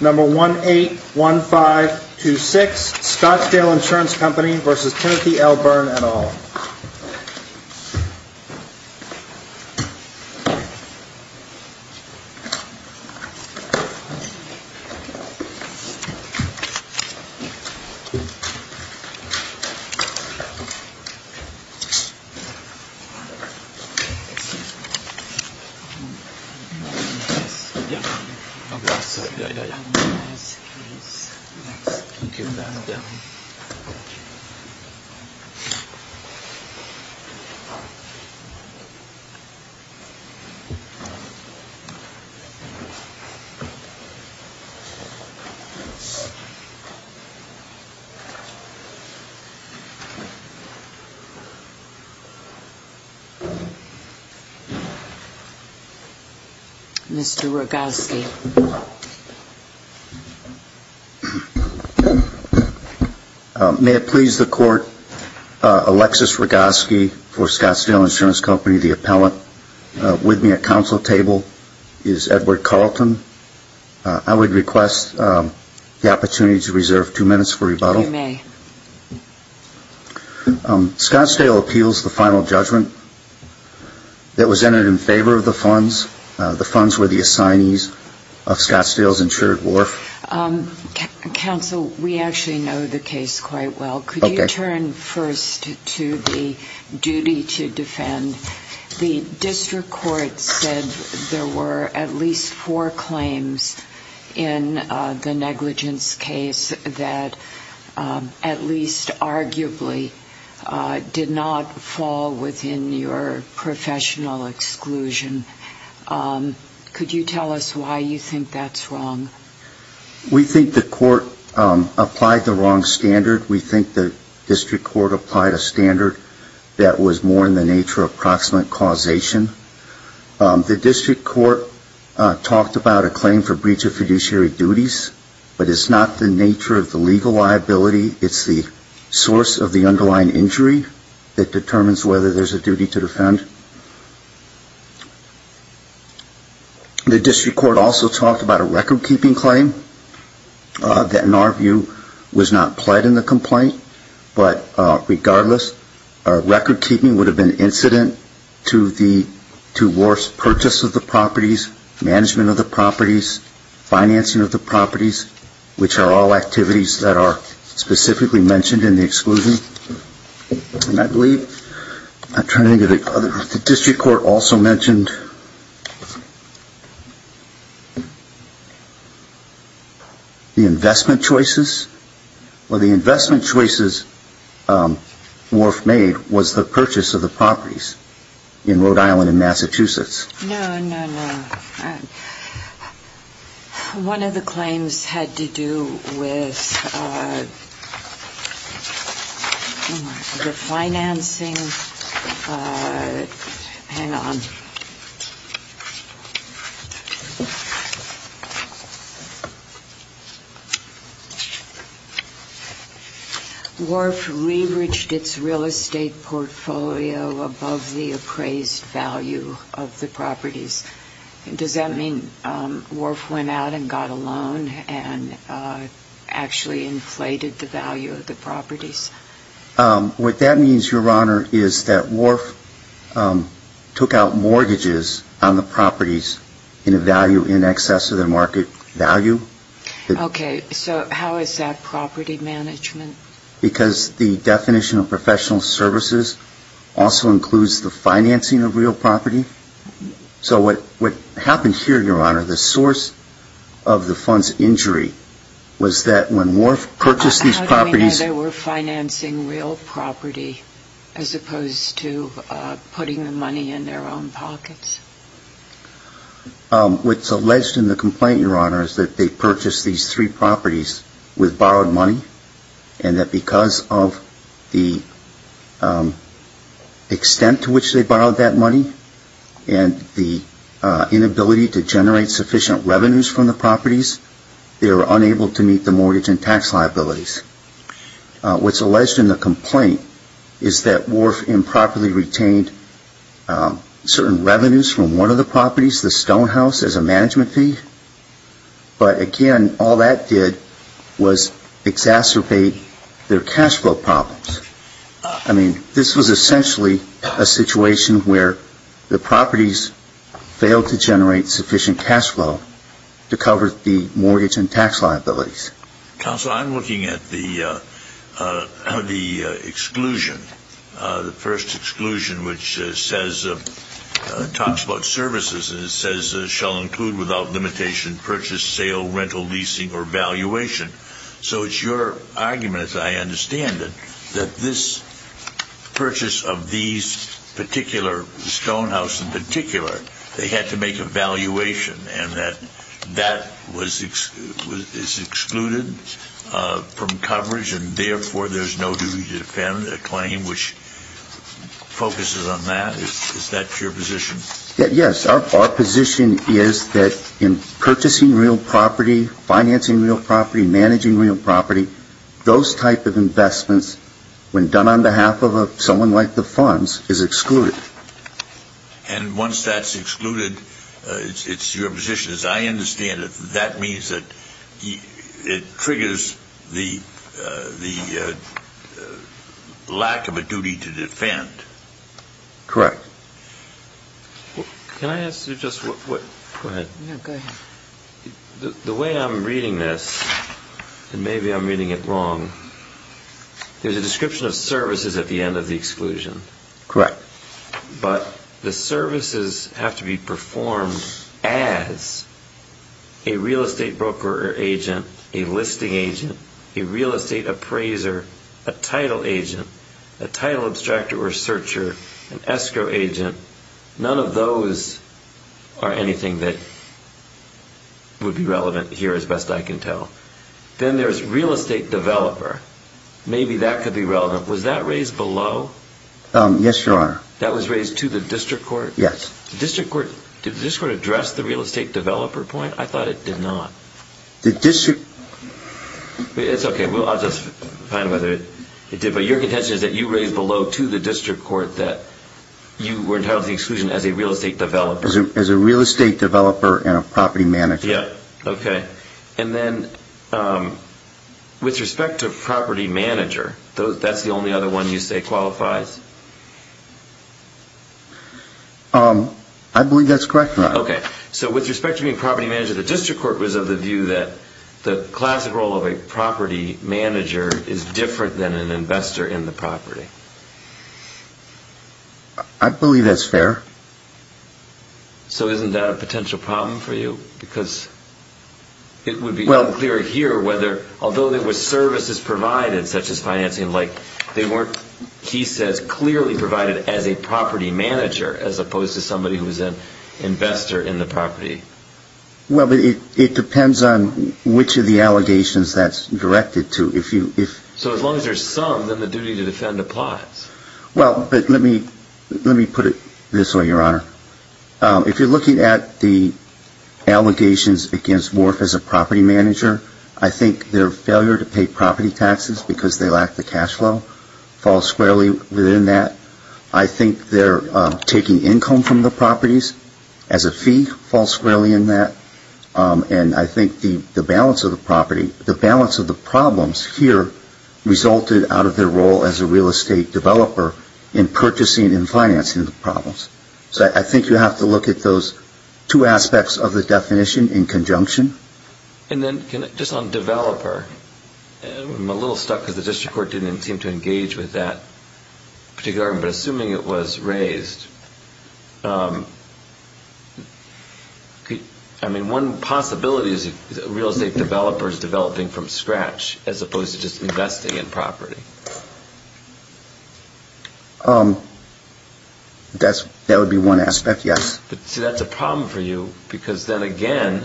Number 181526 Scottsdale Insurance Company versus Kennethy L. Byrne et al. May it please the Court, Alexis Rogoski for Scottsdale Insurance Company, the appellant with me at council table is Edward Carlton. I would request the opportunity to reserve two minutes for rebuttal. You may. Scottsdale appeals the final judgment that was entered in favor of the funds. The funds were the assignees of Scottsdale's insured wharf. Counsel, we actually know the case quite well. Could you turn first to the duty to defend? The district court said there were at least four claims in the negligence case that at least arguably did not fall within your professional exclusion. Could you tell us why you think that's wrong? We think the court applied the wrong standard. We think the district court applied a standard that was more in the nature of proximate causation. The district court talked about a claim for source of the underlying injury that determines whether there's a duty to defend. The district court also talked about a recordkeeping claim that in our view was not pled in the complaint, but regardless, recordkeeping would have been incident to wharf's purchase of the properties, management of the properties, financing of the properties, which are all activities that are specifically mentioned in the exclusion. And I believe, I'm trying to think, the district court also mentioned the investment choices. Well, the investment choices wharf made was the purchase of the properties in Rhode Island and Massachusetts. No, no, no. One of the claims had to do with the financing. Hang on. Wharf re-reached its Does that mean wharf went out and got a loan and actually inflated the value of the properties? What that means, Your Honor, is that wharf took out mortgages on the properties in value in excess of their market value. Okay. So how is that property management? Because the definition of professional services also includes the financing of real property. So what happened here, Your Honor, the source of the fund's injury was that when wharf purchased these properties How do we know they were financing real property as opposed to putting the money in their own pockets? What's alleged in the complaint, Your Honor, is that they purchased these three properties with borrowed money and that because of the extent to which they borrowed that money and the inability to generate sufficient revenues from the properties, they were unable to meet the mortgage and tax liabilities. What's alleged in the complaint is that wharf improperly retained certain revenues from one of the properties, the Stone House, as a management fee. But again, all that did was exacerbate their cash flow problems. I mean, this was essentially a situation where the properties failed to generate sufficient cash flow to cover the mortgage and tax liabilities. Counsel, I'm looking at the exclusion, the first exclusion, which says, talks about services and says shall include without limitation purchase, sale, rental, leasing or valuation. So it's your argument, as I understand it, that this purchase of these particular Stone and that that is excluded from coverage and therefore there's no duty to defend a claim which focuses on that? Is that your position? Yes. Our position is that in purchasing real property, financing real property, managing real property, those type of investments, when done on behalf of someone like the funds, is excluded. And once that's excluded, it's your position, as I understand it, that means that it triggers the lack of a duty to defend? Correct. Can I ask you just one? Go ahead. The way I'm reading this, and maybe I'm reading it wrong, there's a description of services at the end of the exclusion. Correct. But the services have to be performed as a real estate broker or agent, a listing agent, a real estate appraiser, a title agent, a title abstractor or searcher, an escrow agent. None of those are anything that would be relevant here, as best I can tell. Then there's real estate developer. Maybe that could be relevant. Was that raised below? Yes, Your Honor. That was raised to the district court? Yes. Did the district court address the real estate developer point? I thought it did not. The district... It's okay, I'll just find out whether it did, but your contention is that you raised below to the district court that you were entitled to the exclusion as a real estate developer? As a real estate developer and a property manager. Okay. And then with respect to property manager, that's the only other one you say qualifies? I believe that's correct, Your Honor. Okay. So with respect to being property manager, the district court was of the view that the classic role of a property manager is different than an investor in the property? I believe that's fair. So isn't that a potential problem for you? Because it would be unclear here whether, although there were services provided, such as financing, they weren't, he says, clearly provided as a property manager, as opposed to somebody who was an investor in the property. Well, it depends on which of the allegations that's directed to. So as long as there's some, then the duty to defend applies. Well, but let me put it this way, Your Honor. If you're looking at the allegations against Wharf as a property manager, I think their failure to pay property taxes because they lack the cash flow falls squarely within that. I think their taking income from the properties as a fee falls squarely in that. And I think the balance of the property, the balance of the problems here resulted out of their role as a real estate developer in purchasing and financing the problems. So I think you have to look at those two aspects of the definition in conjunction. And then just on developer, I'm a little stuck because the district court didn't seem to engage with that particular argument, but assuming it was raised, I mean, one possibility is real estate developers developing from scratch, as opposed to just investing in property. That would be one aspect, yes. But see, that's a problem for you, because then again,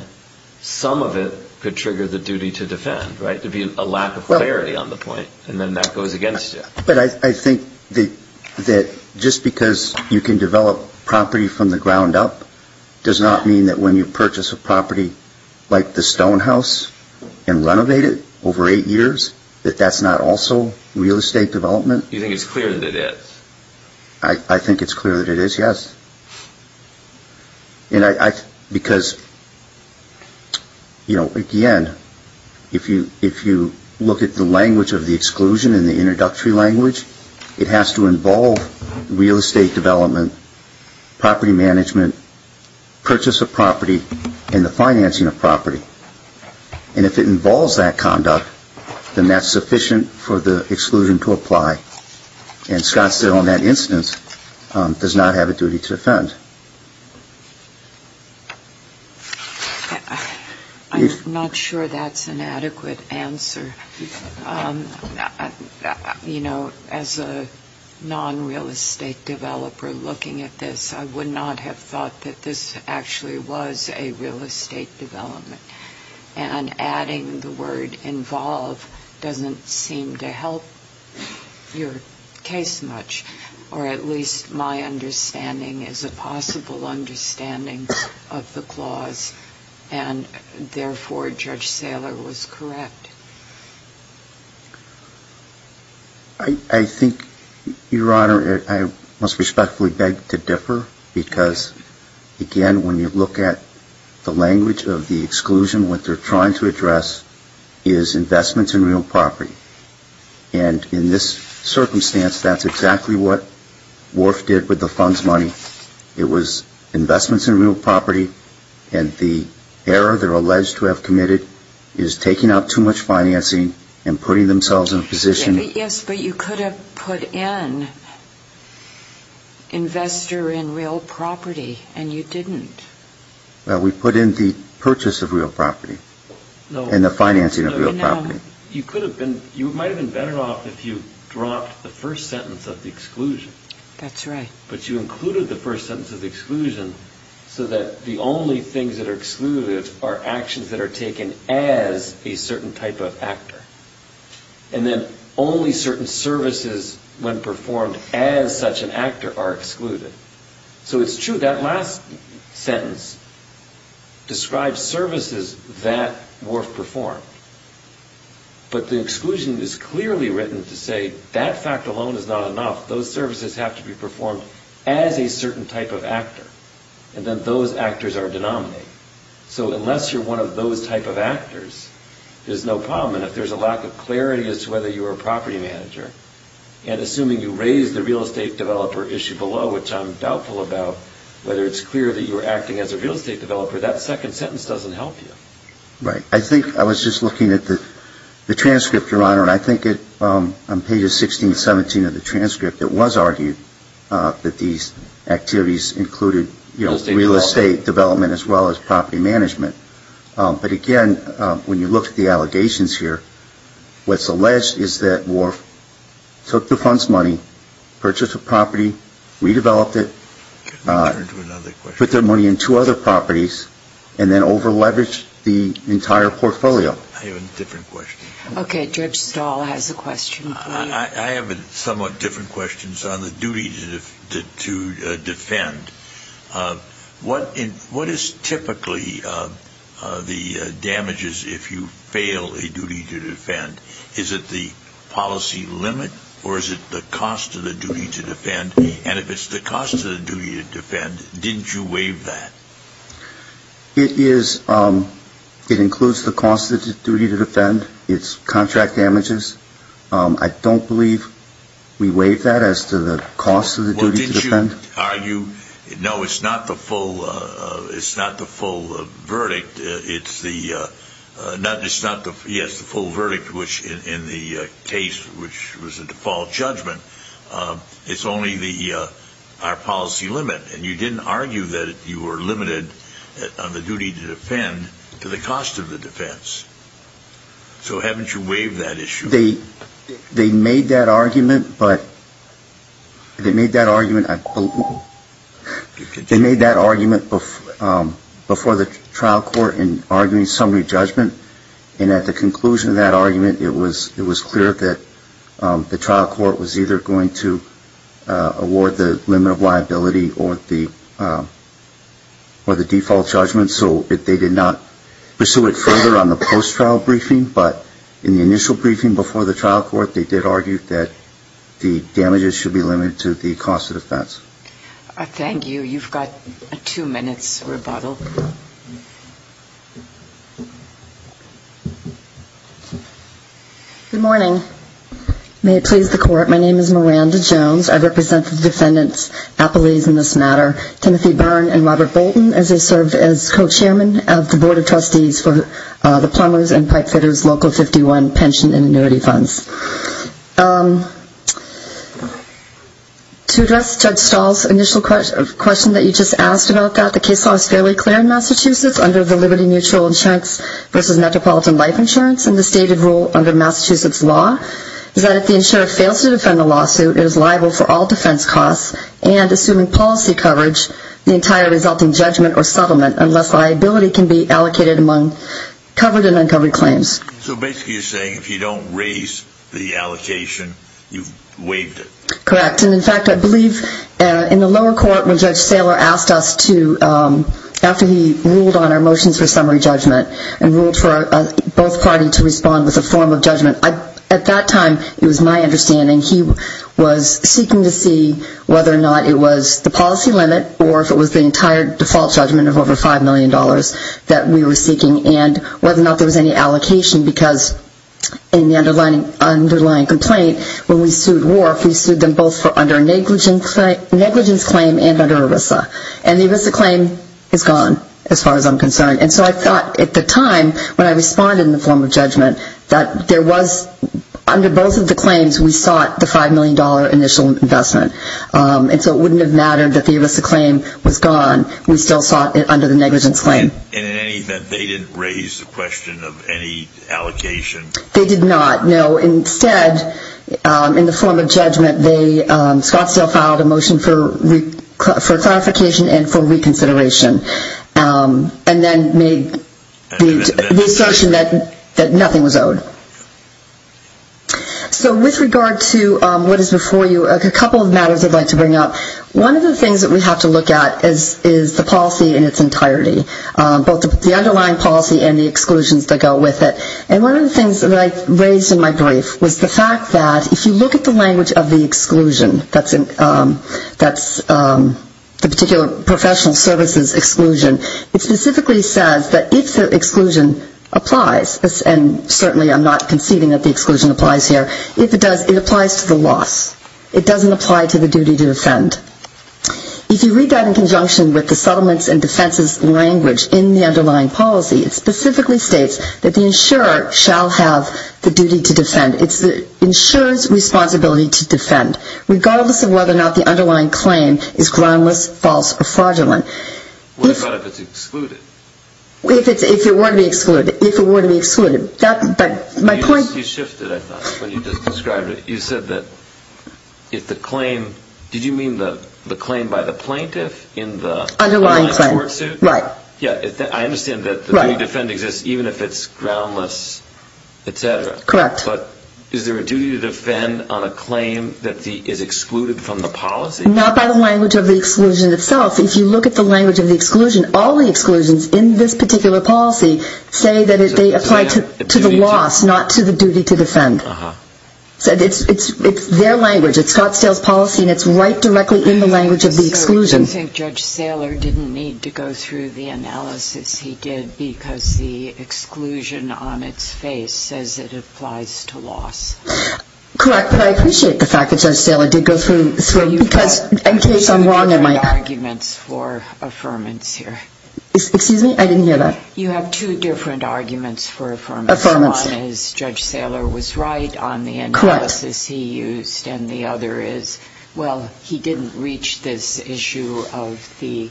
some of it could trigger the duty to defend, right, to be a lack of clarity on the point, and then that goes against you. But I think that just because you can develop property from the ground up does not mean that when you purchase a property like the Stone House and renovate it over eight years, that that's not also real estate development. You think it's clear that it is? I think it's clear that it is, yes. Because, you know, again, if you look at the language of the exclusion and the introductory language, it has to involve real estate development, property management, purchase of property, and the financing of property. And if it involves that conduct, then that's sufficient for the exclusion to apply. And Scott Still, in that instance, does not have a duty to defend. I'm not sure that's an adequate answer. You know, as a non-real estate developer looking at this, I would not have thought that this actually was a real estate development. And adding the word involve doesn't seem to help your case much, or at least my understanding is a possibility. I'm not sure that's a possible understanding of the clause, and, therefore, Judge Saylor was correct. I think, Your Honor, I must respectfully beg to differ, because, again, when you look at the language of the exclusion, what they're trying to address is investments in real property. And in this circumstance, that's exactly what Worf did with the fund's money. It was investments in real property, and the error they're alleged to have committed is taking out too much financing and putting themselves in a position. Yes, but you could have put in investor in real property, and you didn't. Well, we put in the purchase of real property and the financing of real property. You could have been, you might have been better off if you dropped the first sentence of the exclusion. That's right. But you included the first sentence of the exclusion so that the only things that are excluded are actions that are taken as a certain type of actor. And then only certain services, when performed as such an actor, are excluded. So it's true that last sentence describes services that Worf performed. But the exclusion is clearly written to say that fact alone is not enough. Those services have to be performed as a certain type of actor, and then those actors are denominated. So unless you're one of those type of actors, there's no problem. And if there's a lack of clarity as to whether you're a property manager, and assuming you raise the real estate developer issue below, which I'm doubtful about, whether it's clear that you're acting as a real estate developer, that second sentence doesn't help you. Right. I think I was just looking at the transcript, Your Honor, and I think on pages 16 and 17 of the transcript, it was argued that these activities included real estate development as well as property management. But again, when you look at the allegations here, what's alleged is that Worf took the fund's money, purchased a property, redeveloped it, put their money into other properties, and then over leveraged the entire portfolio. I have a different question. Okay, Judge Stahl has a question. I have somewhat different questions on the duty to defend. What is typically the damages if you fail a duty to defend? Is it the policy limit or is it the cost of the duty to defend? And if it's the cost of the duty to defend, didn't you waive that? It includes the cost of the duty to defend. It's contract damages. I don't believe we waived that as to the cost of the duty to defend. No, it's not the full verdict. It's the full verdict in the case, which was a default judgment. It's only our policy limit. And you didn't argue that you were limited on the duty to defend to the cost of the defense. So haven't you waived that issue? They made that argument before the trial court in arguing summary judgment. And at the conclusion of that argument, it was clear that the trial court was either going to award the limit of liability or the default judgment. So they did not pursue it further on the post-trial briefing. But in the initial briefing before the trial court, they did argue that the damages should be limited to the cost of defense. Thank you. You've got two minutes rebuttal. Good morning. May it please the Court, my name is Miranda Jones. I represent the defendants' appellees in this matter, Timothy Byrne and Robert Bolton, as I serve as co-chairman of the Board of Trustees for the Plumbers and Pipefitters Local 51 Pension and Annuity Funds. To address Judge Stahl's initial question that you just asked about that, the case law is fairly clear in Massachusetts under the Liberty Mutual Insurance versus Metropolitan Life Insurance. And the stated rule under Massachusetts law is that if the insurer fails to defend the lawsuit, it is liable for all defense costs. And assuming policy coverage, the entire resulting judgment or settlement, unless liability can be allocated among covered and uncovered claims. So basically you're saying if you don't raise the allocation, you've waived it. Correct. And, in fact, I believe in the lower court when Judge Saylor asked us to, after he ruled on our motions for summary judgment and ruled for both parties to respond with a form of judgment, at that time it was my understanding he was seeking to see whether or not it was the policy limit or if it was the entire default judgment of over $5 million that we were seeking and whether or not there was any allocation. Because in the underlying complaint, when we sued Wharf, we sued them both under a negligence claim and under ERISA. And the ERISA claim is gone as far as I'm concerned. And so I thought at the time when I responded in the form of judgment that there was, under both of the claims, we sought the $5 million initial investment. And so it wouldn't have mattered that the ERISA claim was gone. We still sought it under the negligence claim. And in any event, they didn't raise the question of any allocation? They did not, no. Instead, in the form of judgment, Scottsdale filed a motion for clarification and for reconsideration and then made the assertion that nothing was owed. So with regard to what is before you, a couple of matters I'd like to bring up. One of the things that we have to look at is the policy in its entirety, both the underlying policy and the exclusions that go with it. And one of the things that I raised in my brief was the fact that if you look at the language of the exclusion, that's the particular professional services exclusion, it specifically says that if the exclusion applies, and certainly I'm not conceding that the exclusion applies here, if it does, it applies to the loss. It doesn't apply to the duty to defend. If you read that in conjunction with the settlements and defenses language in the underlying policy, it's the insurance responsibility to defend, regardless of whether or not the underlying claim is groundless, false, or fraudulent. What about if it's excluded? If it were to be excluded. You shifted, I thought, when you just described it. You said that if the claim, did you mean the claim by the plaintiff in the underlying court suit? Underlying claim, right. Yeah, I understand that the duty to defend exists even if it's groundless, et cetera. Correct. But is there a duty to defend on a claim that is excluded from the policy? Not by the language of the exclusion itself. If you look at the language of the exclusion, all the exclusions in this particular policy say that they apply to the loss, not to the duty to defend. So it's their language. It's Scottsdale's policy, and it's right directly in the language of the exclusion. So you think Judge Saylor didn't need to go through the analysis he did because the exclusion on its face says it applies to loss? Correct, but I appreciate the fact that Judge Saylor did go through, because in case I'm wrong in my arguments for affirmance here. Excuse me? I didn't hear that. You have two different arguments for affirmance. Affirmance. One is Judge Saylor was right on the analysis he used, and the other is, well, he didn't reach this issue of the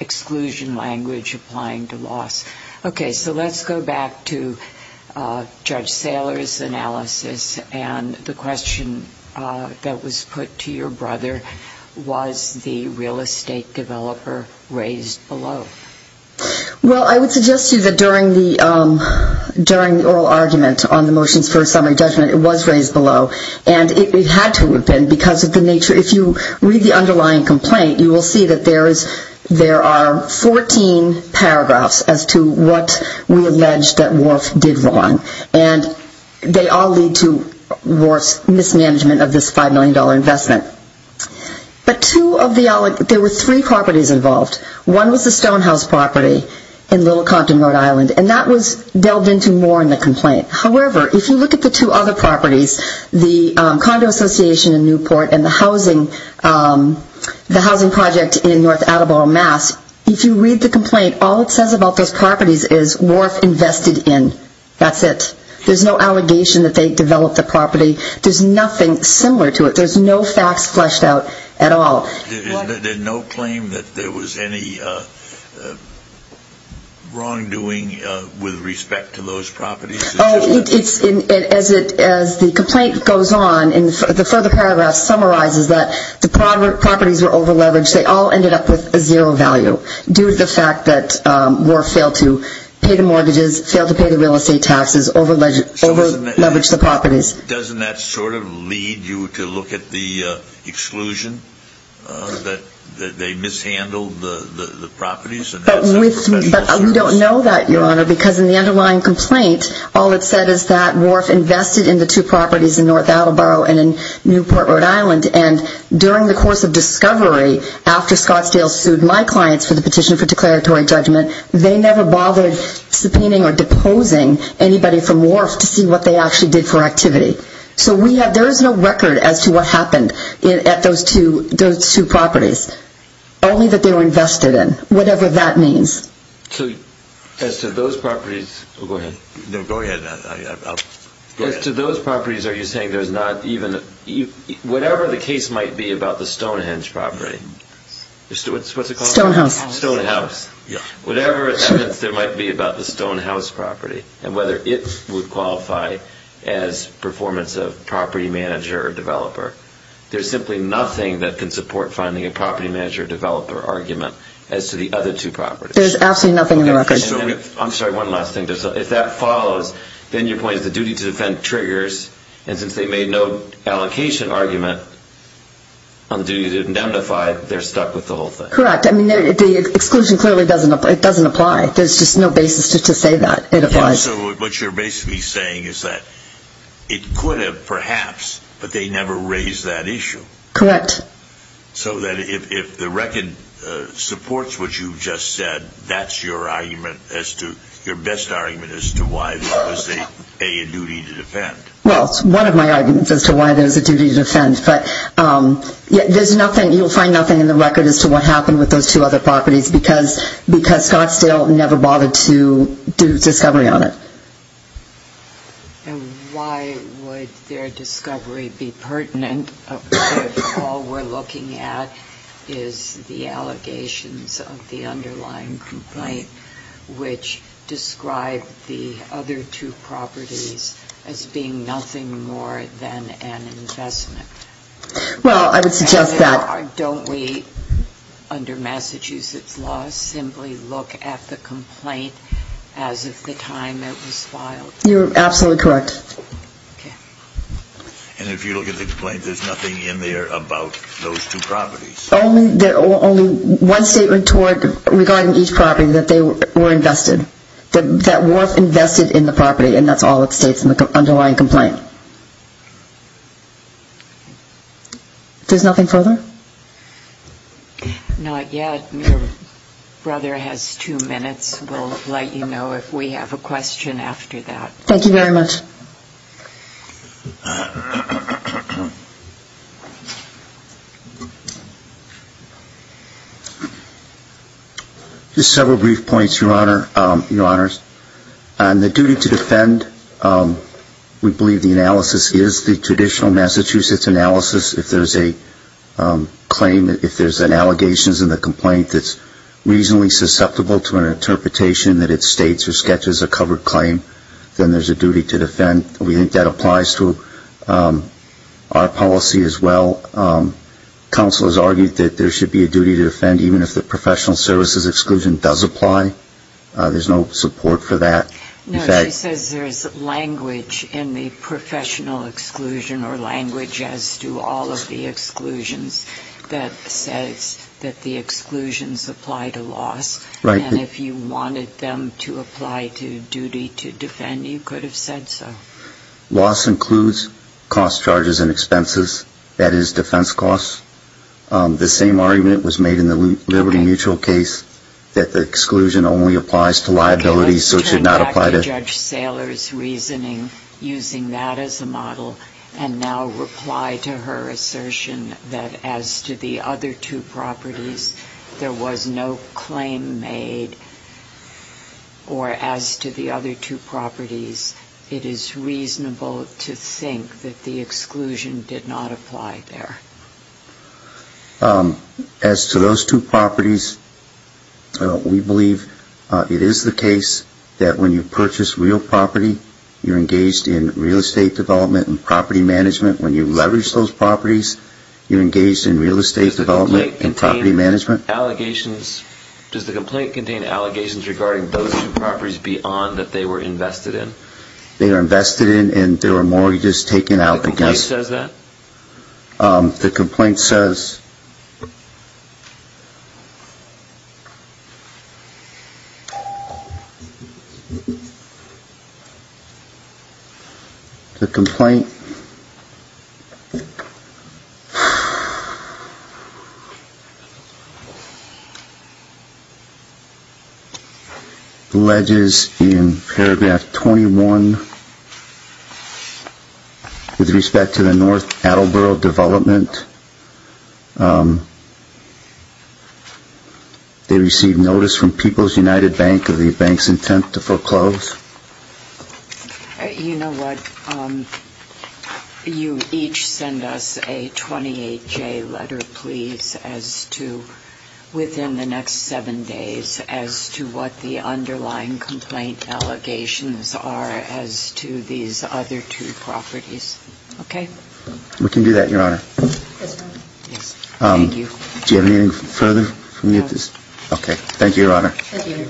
exclusion language applying to loss. Okay, so let's go back to Judge Saylor's analysis and the question that was put to your brother, was the real estate developer raised below? Well, I would suggest to you that during the oral argument on the motions for assembly judgment, it was raised below, and it had to have been because of the nature. If you read the underlying complaint, you will see that there are 14 paragraphs as to what we allege that Wharf did wrong, and they all lead to Wharf's mismanagement of this $5 million investment. But there were three properties involved. One was the Stonehouse property in Little Compton, Rhode Island, and that was delved into more in the complaint. However, if you look at the two other properties, the Condo Association in Newport and the housing project in North Attleboro, Mass., if you read the complaint, all it says about those properties is Wharf invested in. That's it. There's no allegation that they developed the property. There's nothing similar to it. There's no facts fleshed out at all. There's no claim that there was any wrongdoing with respect to those properties? As the complaint goes on, the further paragraph summarizes that the properties were overleveraged. They all ended up with a zero value due to the fact that Wharf failed to pay the mortgages, failed to pay the real estate taxes, overleveraged the properties. Doesn't that sort of lead you to look at the exclusion that they mishandled the properties? Because in the underlying complaint, all it said is that Wharf invested in the two properties in North Attleboro and in Newport, Rhode Island, and during the course of discovery, after Scottsdale sued my clients for the petition for declaratory judgment, they never bothered subpoenaing or deposing anybody from Wharf to see what they actually did for activity. So there is no record as to what happened at those two properties, only that they were invested in, whatever that means. So as to those properties, are you saying there's not even, whatever the case might be about the Stonehenge property, what's it called? Stonehouse. Stonehouse. Whatever evidence there might be about the Stonehouse property and whether it would qualify as performance of property manager or developer, there's simply nothing that can support finding a property manager or developer argument as to the other two properties. There's absolutely nothing in the record. I'm sorry, one last thing. If that follows, then your point is the duty to defend triggers, and since they made no allocation argument on the duty to indemnify, they're stuck with the whole thing. Correct. I mean, the exclusion clearly doesn't apply. There's just no basis to say that it applies. So what you're basically saying is that it could have perhaps, but they never raised that issue. Correct. So that if the record supports what you've just said, that's your best argument as to why there was a duty to defend. Well, it's one of my arguments as to why there's a duty to defend, but you'll find nothing in the record as to what happened with those two other properties because Scottsdale never bothered to do discovery on it. And why would their discovery be pertinent if all we're looking at is the allegations of the underlying complaint which describe the other two properties as being nothing more than an investment? Well, I would suggest that... Under Massachusetts law, simply look at the complaint as of the time it was filed. You're absolutely correct. Okay. And if you look at the complaint, there's nothing in there about those two properties? Only one statement regarding each property that they were invested, that were invested in the property, and that's all it states in the underlying complaint. There's nothing further? Not yet. Your brother has two minutes. We'll let you know if we have a question after that. Thank you very much. Just several brief points, Your Honors. On the duty to defend, we believe the analysis is the traditional Massachusetts analysis if there's a claim, if there's an allegation in the complaint that's reasonably susceptible to an interpretation that it states or sketches a covered claim, then there's a duty to defend. We think that applies to our policy as well. Counsel has argued that there should be a duty to defend even if the professional services exclusion does apply. There's no support for that. No, she says there's language in the professional exclusion or language as to all of the exclusions that says that the exclusions apply to loss. And if you wanted them to apply to duty to defend, you could have said so. Loss includes cost charges and expenses. That is defense costs. The same argument was made in the Liberty Mutual case that the exclusion only applies to liability so it should not apply to... Let's turn back to Judge Saylor's reasoning using that as a model and now reply to her assertion that as to the other two properties, there was no claim made. Or as to the other two properties, it is reasonable to think that the exclusion did not apply there. As to those two properties, we believe it is the case that when you purchase real property, you're engaged in real estate development and property management. When you leverage those properties, you're engaged in real estate development and property management. Does the complaint contain allegations regarding those two properties beyond that they were invested in? They were invested in and there were mortgages taken out. The complaint says that? The complaint says... The complaint... Attleboro Development... They received notice from People's United Bank of the bank's intent to foreclose? You know what? You each send us a 28-J letter, please, as to... within the next seven days as to what the underlying complaint allegations are as to these other two properties. Okay? We can do that, Your Honor. Yes, Your Honor. Yes. Thank you. Do you have anything further? No. Okay. Thank you, Your Honor. Thank you.